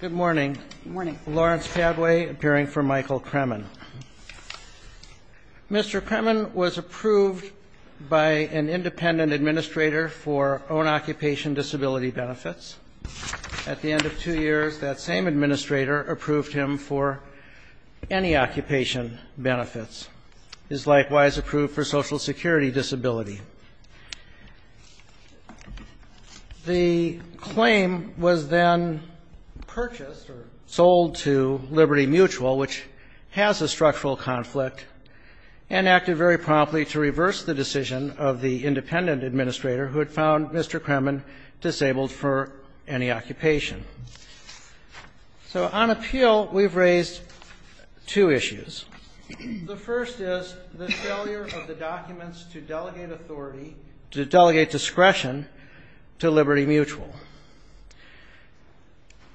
Good morning. Lawrence Cadway, appearing for Michael Cremin. Mr. Cremin was approved by an independent administrator for own occupation disability benefits. At the end of two years, that same administrator approved him for any occupation benefits. He is likewise approved for Social Security disability. The claim was then purchased or sold to Liberty Mutual, which has a structural conflict, and acted very promptly to reverse the decision of the independent administrator who had found Mr. Cremin disabled for any occupation. So on appeal, we've raised two issues. The first is the failure of the documents to delegate authority, to delegate discretion, to Liberty Mutual.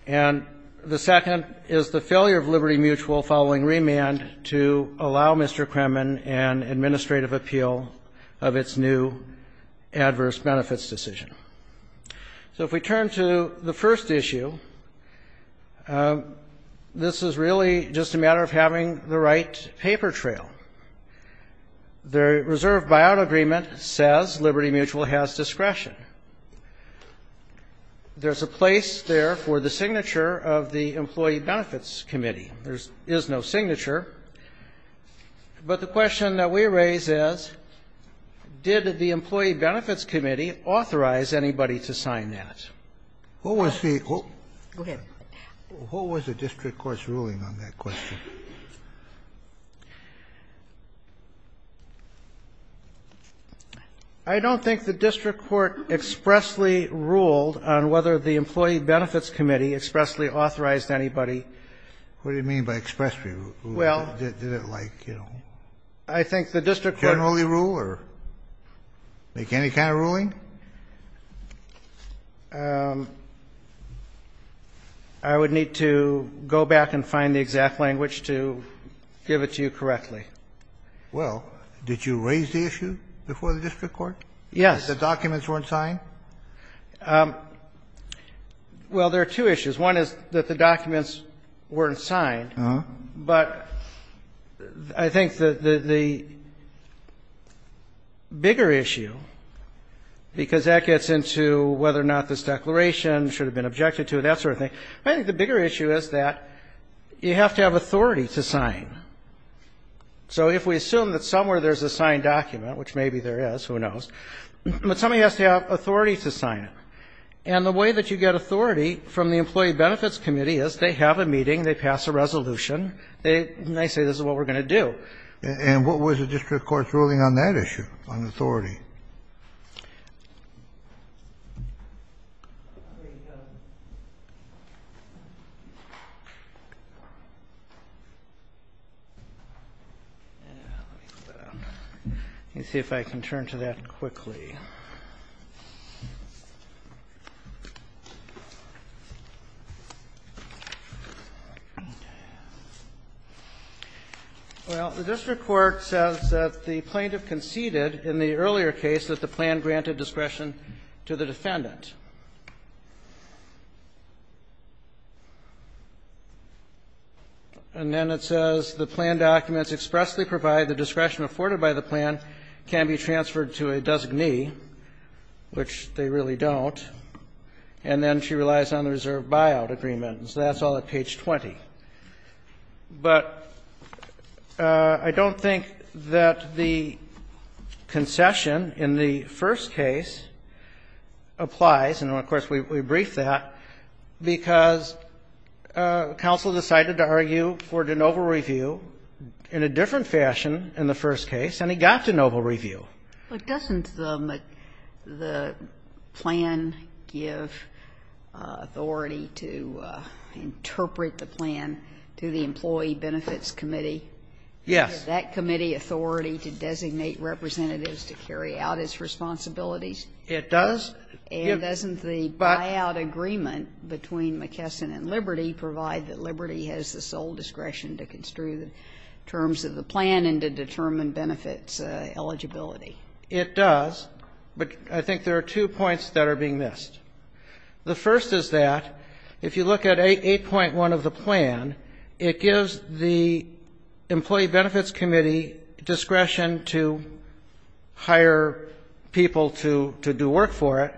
And the second is the failure of Liberty Mutual, following remand, to allow Mr. Cremin an administrative appeal of its new adverse benefits decision. So if we turn to the first issue, this is really just a matter of having the right paper trail. The reserve buyout agreement says Liberty Mutual has discretion. There's a place there for the signature of the Employee Benefits Committee. There is no signature. But the question that we raise is, did the Employee Benefits Committee authorize anybody to sign that? Kennedy. Go ahead. What was the district court's ruling on that question? I don't think the district court expressly ruled on whether the Employee Benefits Committee expressly authorized anybody. What do you mean by expressly ruled? Did it like, you know, generally rule or make any kind of ruling? I would need to go back and find the exact language to give it to you correctly. Well, did you raise the issue before the district court? Yes. That the documents weren't signed? Well, there are two issues. One is that the documents weren't signed. But I think that the bigger issue, because that gets into whether or not this declaration should have been objected to, that sort of thing, I think the bigger issue is that you have to have authority to sign. So if we assume that somewhere there's a signed document, which maybe there is, who knows, but somebody has to have authority to sign it. And the way that you get authority from the Employee Benefits Committee is they have a meeting, they pass a resolution, they say this is what we're going to do. And what was the district court's ruling on that issue, on authority? Let me see if I can turn to that quickly. Well, the district court says that the plaintiff conceded in the earlier case that the plan granted discretion to the defendant. And then it says the plan documents expressly provide the discretion afforded can be transferred to a designee, which they really don't. And then she relies on the reserve buyout agreement. And so that's all at page 20. But I don't think that the concession in the first case applies. And, of course, we brief that because counsel decided to argue for de novo review in a different fashion in the first case. And he got de novo review. But doesn't the plan give authority to interpret the plan to the Employee Benefits Committee? Yes. Does that committee authority to designate representatives to carry out its responsibilities? It does. And doesn't the buyout agreement between McKesson and Liberty provide that Liberty has the sole discretion to construe the terms of the plan and to determine benefits eligibility? It does. But I think there are two points that are being missed. The first is that if you look at 8.1 of the plan, it gives the Employee Benefits Committee discretion to hire people to do work for it,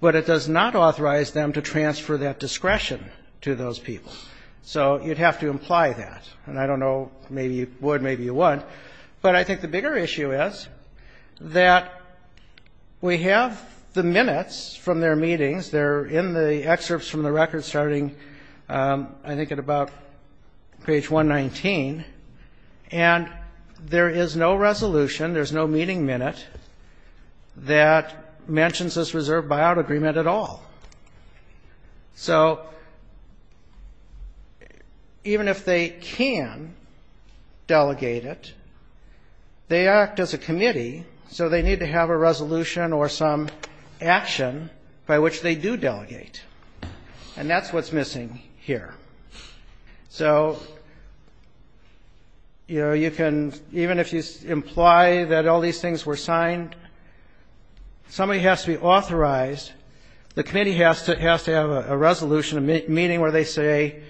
but it does not authorize them to transfer that discretion to those people. So you'd have to imply that. And I don't know. Maybe you would. Maybe you wouldn't. But I think the bigger issue is that we have the minutes from their meetings. They're in the excerpts from the record starting, I think, at about page 119. And there is no resolution, there's no meeting minute, that mentions this reserve buyout agreement at all. So even if they can delegate it, they act as a committee, so they need to have a resolution or some action by which they do delegate. And that's what's missing here. So, you know, you can, even if you imply that all these things were signed, somebody has to be authorized. The committee has to have a resolution, a meeting where they say,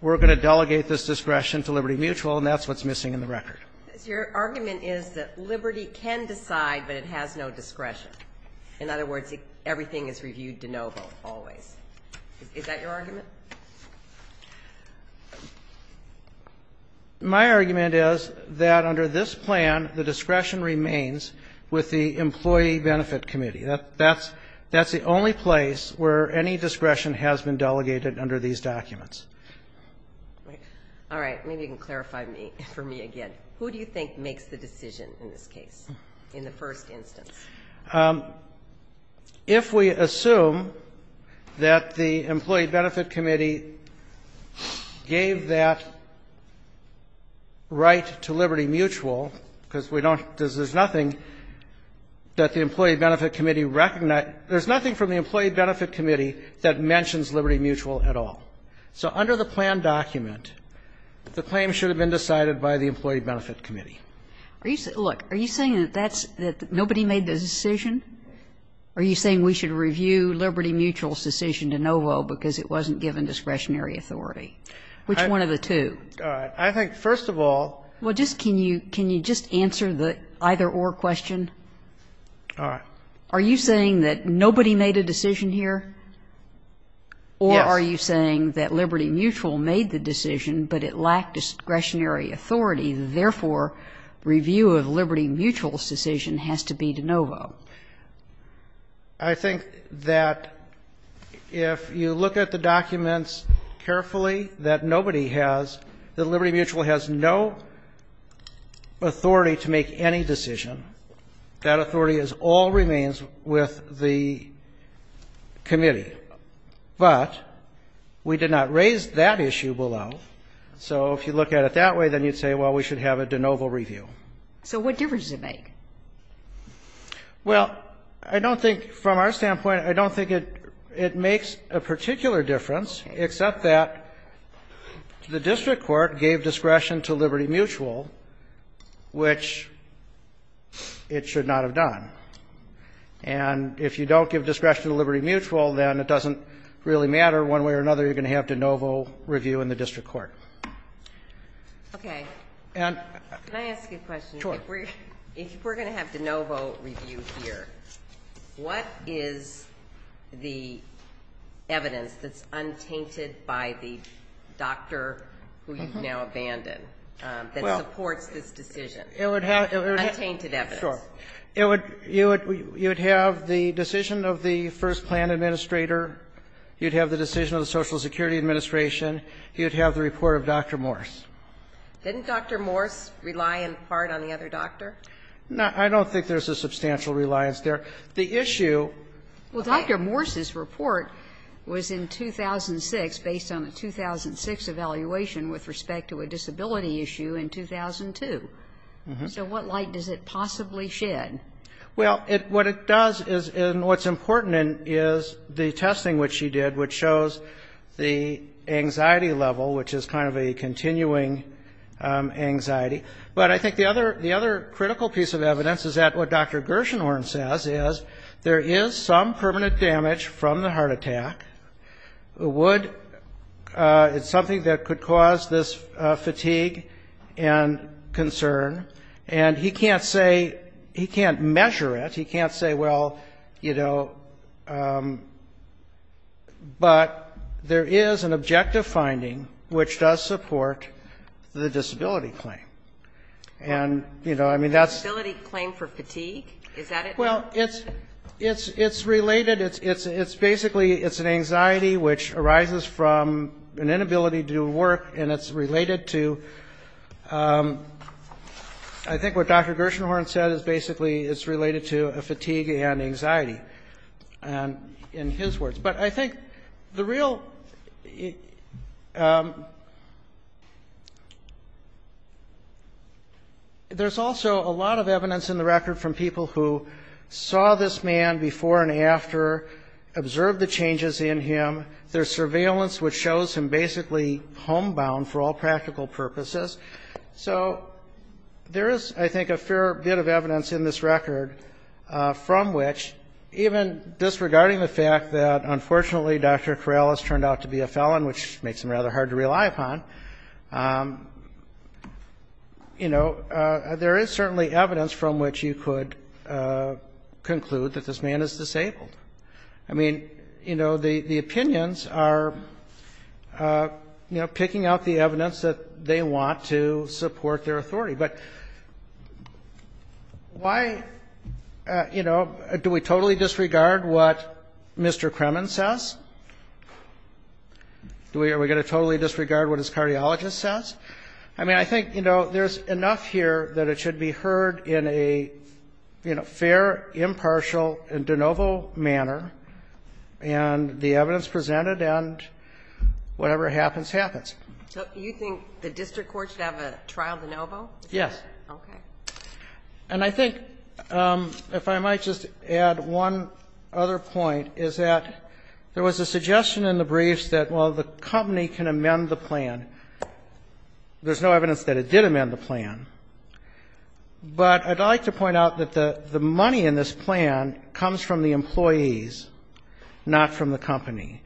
we're going to delegate this discretion to Liberty Mutual, and that's what's missing in the record. Your argument is that Liberty can decide, but it has no discretion. In other words, everything is reviewed de novo, always. Is that your argument? My argument is that under this plan, the discretion remains with the Employee Benefit Committee. That's the only place where any discretion has been delegated under these documents. All right. Maybe you can clarify for me again. Who do you think makes the decision in this case, in the first instance? If we assume that the Employee Benefit Committee gave that right to Liberty Mutual, because we don't, because there's nothing that the Employee Benefit Committee recognizes, there's nothing from the Employee Benefit Committee that mentions Liberty Mutual at all. So under the plan document, the claim should have been decided by the Employee Benefit Committee. Are you saying, look, are you saying that that's, that nobody made the decision? Are you saying we should review Liberty Mutual's decision de novo because it wasn't given discretionary authority? Which one of the two? All right. I think, first of all. Well, just can you, can you just answer the either-or question? All right. Are you saying that nobody made a decision here? Yes. Or are you saying that Liberty Mutual made the decision, but it lacked discretionary authority, therefore review of Liberty Mutual's decision has to be de novo? I think that if you look at the documents carefully, that nobody has, that Liberty Mutual has no authority to make any decision. That authority all remains with the committee. But we did not raise that issue below. So if you look at it that way, then you'd say, well, we should have a de novo review. So what difference does it make? Well, I don't think, from our standpoint, I don't think it makes a particular difference, except that the district court gave discretion to Liberty Mutual, which it should not have done. And if you don't give discretion to Liberty Mutual, then it doesn't really matter one way or another. You're going to have de novo review in the district court. Okay. Can I ask you a question? Sure. If we're going to have de novo review here, what is the evidence that's untainted by the doctor who you've now abandoned that supports this decision? Untainted evidence. Sure. You would have the decision of the first plan administrator, you'd have the decision of the Social Security Administration, you'd have the report of Dr. Morse. Didn't Dr. Morse rely in part on the other doctor? No, I don't think there's a substantial reliance there. The issue of Dr. Morse's report was in 2006, based on a 2006 evaluation with respect to a disability issue in 2002. So what light does it possibly shed? Well, what it does is, and what's important is the testing which she did, which shows the anxiety level, which is kind of a continuing anxiety. But I think the other critical piece of evidence is that what Dr. Gershenhorn says is there is some permanent damage from the heart attack. It's something that could cause this fatigue and concern. And he can't say, he can't measure it. He can't say, well, you know, but there is an objective finding which does support the disability claim. And, you know, I mean, that's... Disability claim for fatigue? Is that it? Well, it's related, it's basically, it's an anxiety which arises from an inability to do work, and it's related to, I think what Dr. Gershenhorn said is basically it's related to a fatigue and anxiety in his words. But I think the real, there's also a lot of evidence in the record from people who saw this man before and after, observed the changes in him. There's surveillance which shows him basically homebound for all practical purposes. So there is, I think, a fair bit of evidence in this record from which, even disregarding the fact that, unfortunately, Dr. Corrales turned out to be a felon, which makes him rather hard to rely upon, you know, there is certainly evidence from which you could conclude that this man is disabled. I mean, you know, the opinions are, you know, picking out the evidence that they want to support their authority. But why, you know, do we totally disregard what Mr. Kremen says? Are we going to totally disregard what his cardiologist says? I mean, I think, you know, there's enough here that it should be heard in a, you know, fair, impartial, de novo manner. And the evidence presented and whatever happens, happens. So you think the district court should have a trial de novo? Yes. Okay. And I think, if I might just add one other point, is that there was a suggestion in the briefs that, well, the company can amend the plan. There's no evidence that it did amend the plan. But I'd like to point out that the money in this plan comes from the employees, not from the company.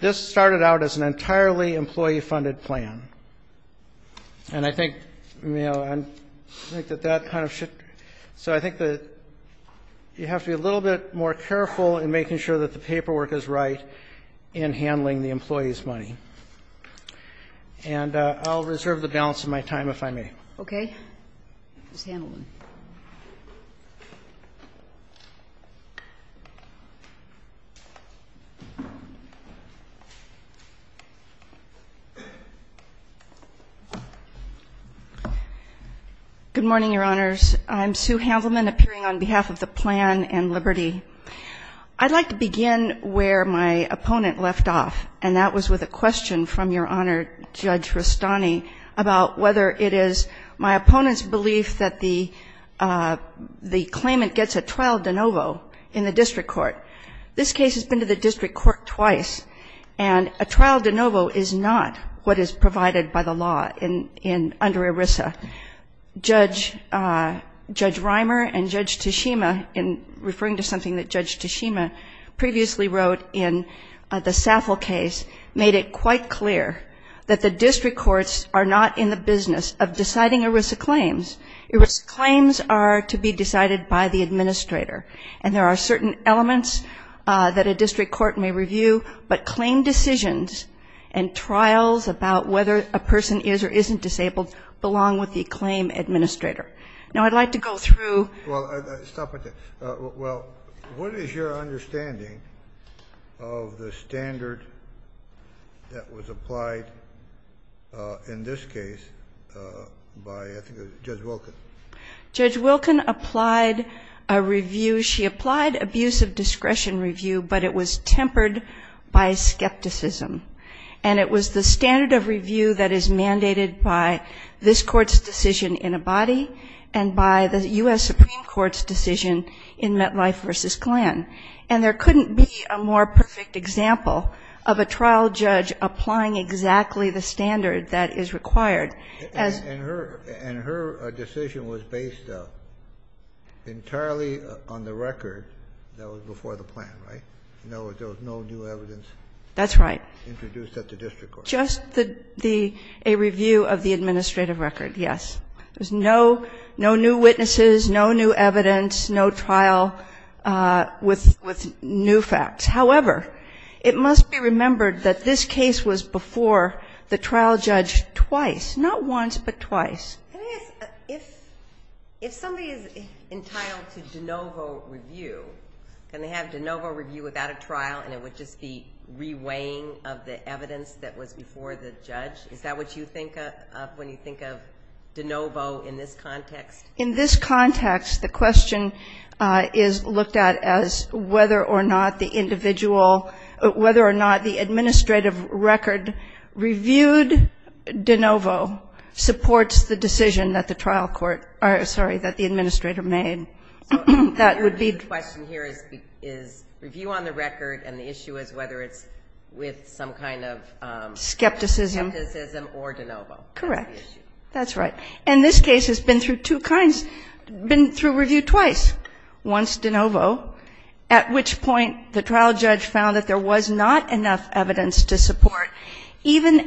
This started out as an entirely employee-funded plan. And I think, you know, I think that that kind of should be. So I think that you have to be a little bit more careful in making sure that the paperwork is right in handling the employees' money. And I'll reserve the balance of my time, if I may. Okay. Ms. Handelman. Good morning, Your Honors. I'm Sue Handelman, appearing on behalf of the Plan and Liberty. I'd like to begin where my opponent left off, and that was with a question from Your Honor, Judge Rustani, about whether it is my opponent's belief that the claimant gets a trial de novo in the district court. This case has been to the district court twice, and a trial de novo is not what is provided by the law under ERISA. Judge Reimer and Judge Tashima, in referring to something that Judge Tashima previously wrote in the SAFL case, made it quite clear that the district courts are not in the business of deciding ERISA claims. ERISA claims are to be decided by the administrator. And there are certain elements that a district court may review, but claim decisions and trials about whether a person is or isn't disabled belong with the claim administrator. Now, I'd like to go through. Well, what is your understanding of the standard that was applied in this case by, I think, Judge Wilkin? Judge Wilkin applied a review. She applied abuse of discretion review, but it was tempered by skepticism. It was tempered by this Court's decision in Abadi and by the U.S. Supreme Court's decision in Metlife v. Klan. And there couldn't be a more perfect example of a trial judge applying exactly the standard that is required. And her decision was based entirely on the record that was before the plan, right? There was no new evidence. That's right. Introduced at the district court. Just a review of the administrative record, yes. There's no new witnesses, no new evidence, no trial with new facts. However, it must be remembered that this case was before the trial judge twice. Not once, but twice. Can I ask, if somebody is entitled to de novo review, can they have de novo review without a trial, and it would just be reweighing of the evidence that was before the judge? Is that what you think of when you think of de novo in this context? In this context, the question is looked at as whether or not the individual, whether or not the administrative record reviewed de novo supports the decision that the trial court or, sorry, that the administrator made. The question here is review on the record and the issue is whether it's with some kind of skepticism or de novo. Correct. That's right. And this case has been through two kinds, been through review twice, once de novo, at which point the trial judge found that there was not enough evidence to support, Dr.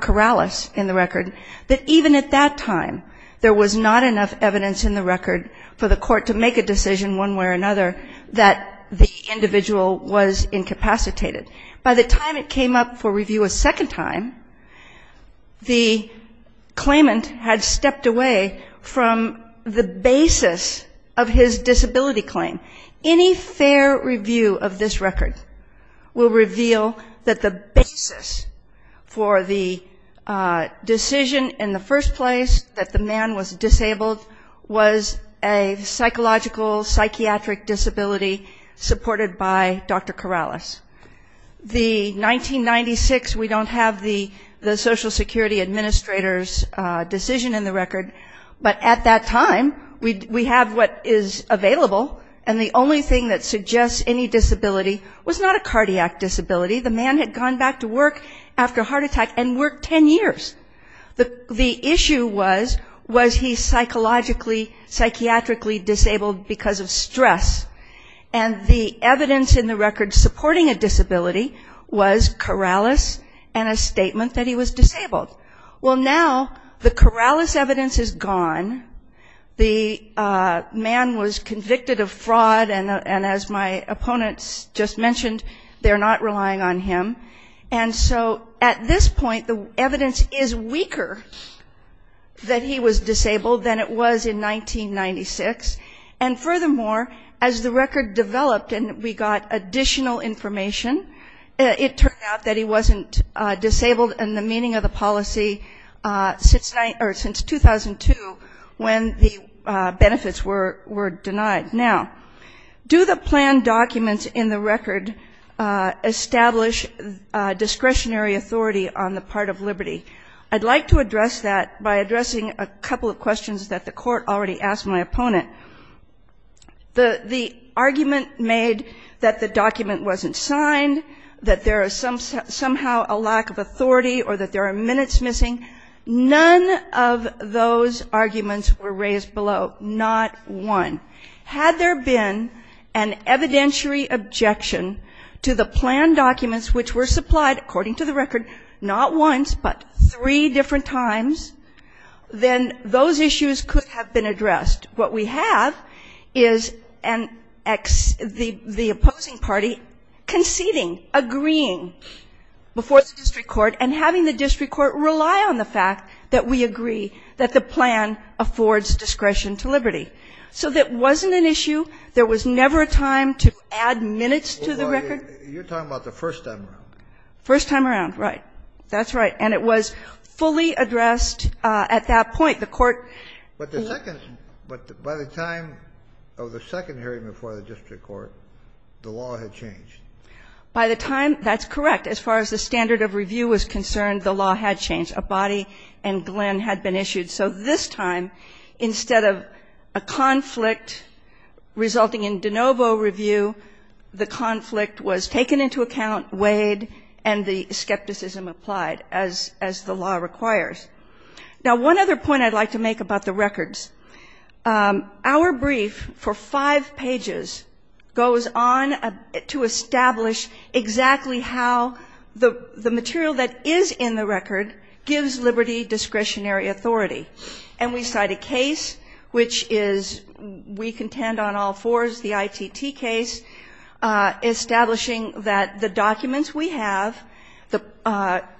Corrales in the record, that even at that time there was not enough evidence in the record for the court to make a decision one way or another that the individual was incapacitated. By the time it came up for review a second time, the claimant had stepped away from the basis of his disability claim. Any fair review of this record will reveal that the basis for the decision in the first place that the man was disabled was a psychological, psychiatric disability supported by Dr. Corrales. The 1996, we don't have the social security administrator's decision in the record, but at that time we have what is available and the only thing that suggests any disability was not a cardiac disability. The man had gone back to work after a heart attack and worked 10 years. The issue was, was he psychologically, psychiatrically disabled because of stress? And the evidence in the record supporting a disability was Corrales and a statement that he was disabled. Well, now the Corrales evidence is gone. The man was convicted of fraud, and as my opponents just mentioned, they're not relying on him. And so at this point the evidence is weaker that he was disabled than it was in 1996. And furthermore, as the record developed and we got additional information, it turned out that he wasn't disabled in the meaning of the policy since 2002 when the benefits were denied. Now, do the planned documents in the record establish discretionary authority on the part of liberty? I'd like to address that by addressing a couple of questions that the court already asked my opponent. The argument made that the document wasn't signed, that there is somehow a lack of authority, or that there are minutes missing, none of those arguments were raised below, not one. Had there been an evidentiary objection to the planned documents which were supplied, according to the record, not once, but three different times, then those issues could have been addressed. What we have is the opposing party conceding, agreeing before the district court, and having the district court rely on the fact that we agree that the plan affords discretion to liberty. So that wasn't an issue. There was never a time to add minutes to the record. You're talking about the first time around. First time around, right. That's right. And it was fully addressed at that point. The court ---- But the second ---- but by the time of the second hearing before the district court, the law had changed. By the time ---- that's correct. As far as the standard of review was concerned, the law had changed. A body and Glenn had been issued. So this time, instead of a conflict resulting in de novo review, the conflict was taken into account, weighed, and the skepticism applied, as the law requires. Now, one other point I'd like to make about the records. Our brief for five pages goes on to establish exactly how the material that is in the record gives liberty discretionary authority. And we cite a case which is we contend on all fours, the ITT case, establishing that the documents we have,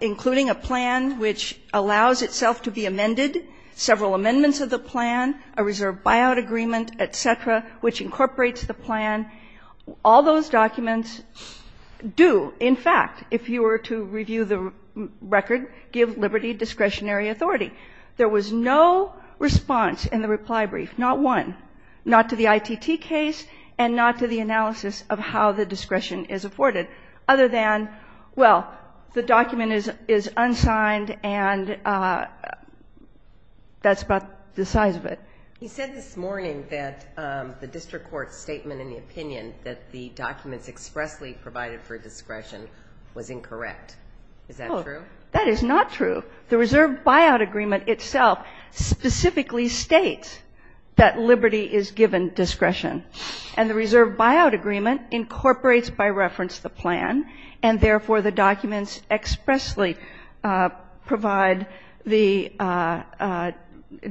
including a plan which allows itself to be amended, several amendments of the plan, a reserve buyout agreement, et cetera, which incorporates the plan, all those documents do, in fact, if you were to review the record, give liberty discretionary authority. There was no response in the reply brief. Not one. Not to the ITT case and not to the analysis of how the discretion is afforded, other than, well, the document is unsigned and that's about the size of it. He said this morning that the district court's statement in the opinion that the documents expressly provided for discretion was incorrect. Is that true? That is not true. The reserve buyout agreement itself specifically states that liberty is given discretion. And the reserve buyout agreement incorporates by reference the plan, and therefore the documents expressly provide the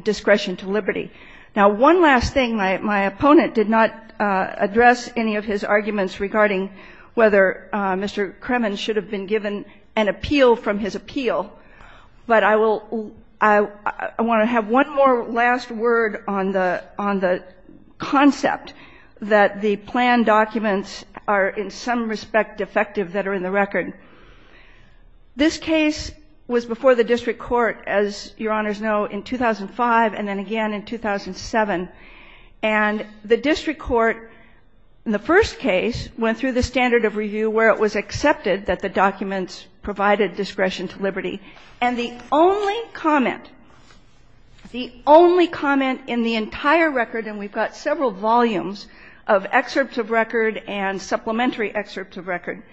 discretion to liberty. Now, one last thing. My opponent did not address any of his arguments regarding whether Mr. Kremen should have been given an appeal from his appeal, but I will ‑‑ I want to have one more last word on the concept that the plan documents are in some respect defective that are in the record. This case was before the district court, as Your Honors know, in 2005 and then again in 2007. And the district court in the first case went through the standard of review where it was accepted that the documents provided discretion to liberty. And the only comment, the only comment in the entire record, and we've got several volumes of excerpts of record and supplementary excerpts of record,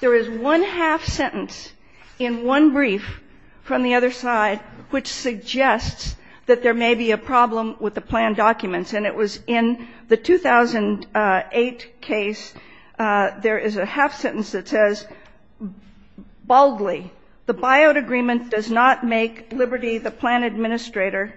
there is one half sentence in one brief from the other side which suggests that there may be a problem with the plan documents. And it was in the 2008 case, there is a half sentence that says, baldly, the buyout agreement does not make liberty the plan administrator,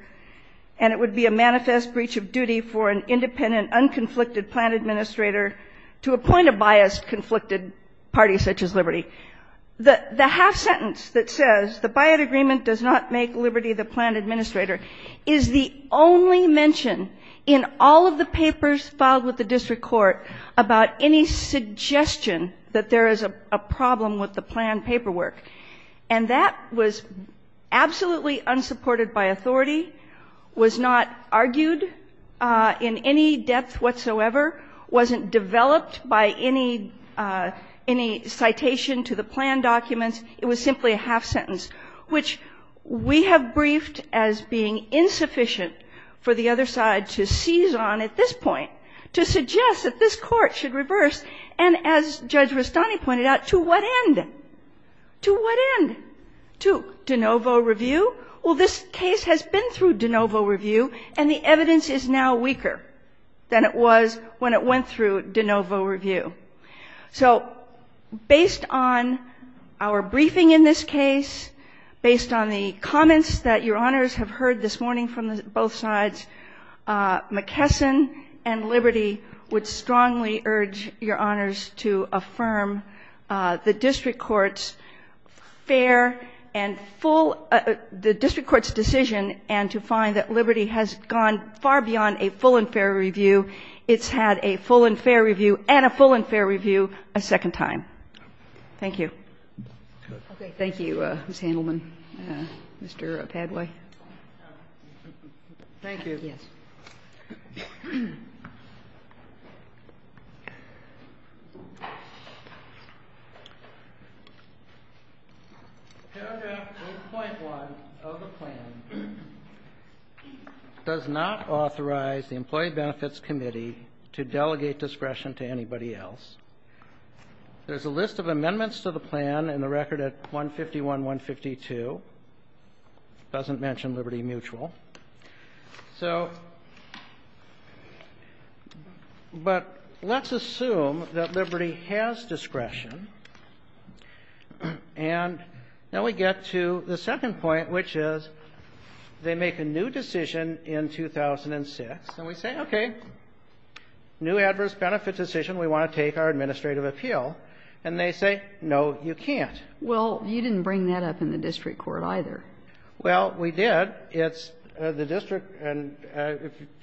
and it would be a manifest breach of duty for an independent, unconflicted plan administrator to appoint a biased conflicted party such as liberty. The half sentence that says the buyout agreement does not make liberty the plan administrator is the only mention in all of the papers filed with the district court about any suggestion that there is a problem with the plan paperwork. And that was absolutely unsupported by authority, was not argued in any depth whatsoever, wasn't developed by any citation to the plan documents. It was simply a half sentence, which we have briefed as being insufficient for the other side to seize on at this point, to suggest that this Court should reverse, and as Judge Rastani pointed out, to what end? To what end? To de novo review? Well, this case has been through de novo review, and the evidence is now weaker than it was when it went through de novo review. So based on our briefing in this case, based on the comments that Your Honors have heard this morning from both sides, McKesson and Liberty would strongly urge Your Honors to affirm the district court's fair and full – the district court's decision and to find that Liberty has gone far beyond a full and fair review. It's had a full and fair review and a full and fair review a second time. Thank you. Okay. Thank you, Ms. Handelman. Thank you. Yes. The paragraph 8.1 of the plan does not authorize the Employee Benefits Committee to delegate discretion to anybody else. There's a list of amendments to the plan in the record at 151, 152. It doesn't mention Liberty Mutual. So – but let's assume that Liberty has discretion. And now we get to the second point, which is they make a new decision in 2006, and we say, okay, new adverse benefit decision, we want to take our administrative appeal. And they say, no, you can't. Well, you didn't bring that up in the district court either. Well, we did. It's the district, and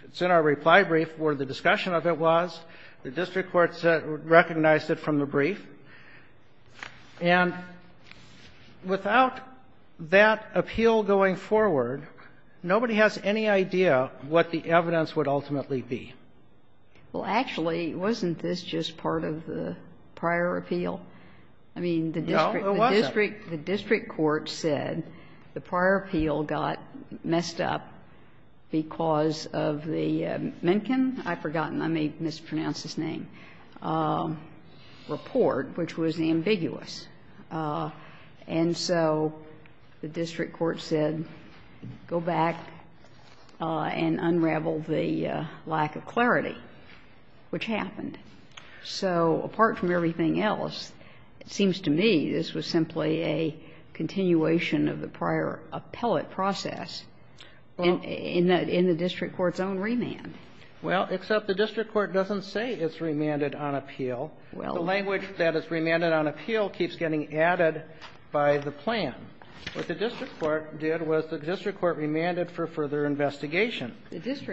it's in our reply brief where the discussion of it was. The district court recognized it from the brief. And without that appeal going forward, nobody has any idea what the evidence would ultimately be. Well, actually, wasn't this just part of the prior appeal? I mean, the district court said the prior appeal got, you know, the district court messed up because of the Mencken, I've forgotten, I may have mispronounced his name, report, which was the ambiguous. And so the district court said, go back and unravel the lack of clarity, which happened. So apart from everything else, it seems to me this was simply a continuation of the prior appellate process in the district court's own remand. Well, except the district court doesn't say it's remanded on appeal. The language that it's remanded on appeal keeps getting added by the plan. What the district court did was the district court remanded for further investigation,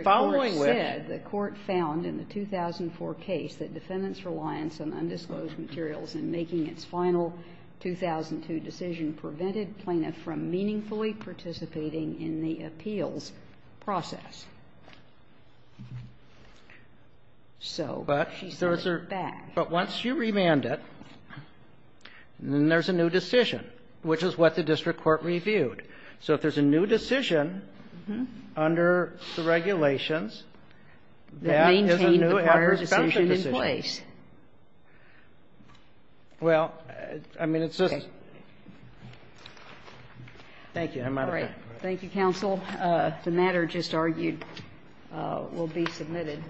following which the court found in the 2004 case that defendants' reliance on undisclosed materials in making its final 2002 decision prevented plaintiff from meaningfully participating in the appeals process. So she's going back. But once you remand it, then there's a new decision, which is what the district court reviewed. So if there's a new decision under the regulations, that is a new adverse benefit decision. All right. Mr. McCloud. Next, please. Well, I mean, it's just. Thank you, Your Honor. Thank you, counsel. The matter just argued will be submitted,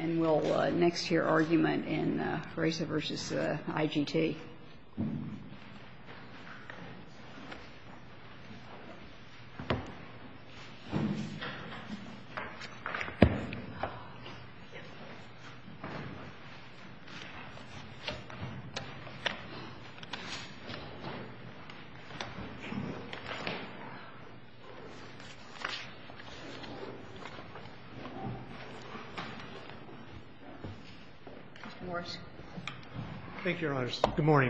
and we'll next hear argument in Graza v. IGT. Mr. McConnell, please. Thank you, Your Honor.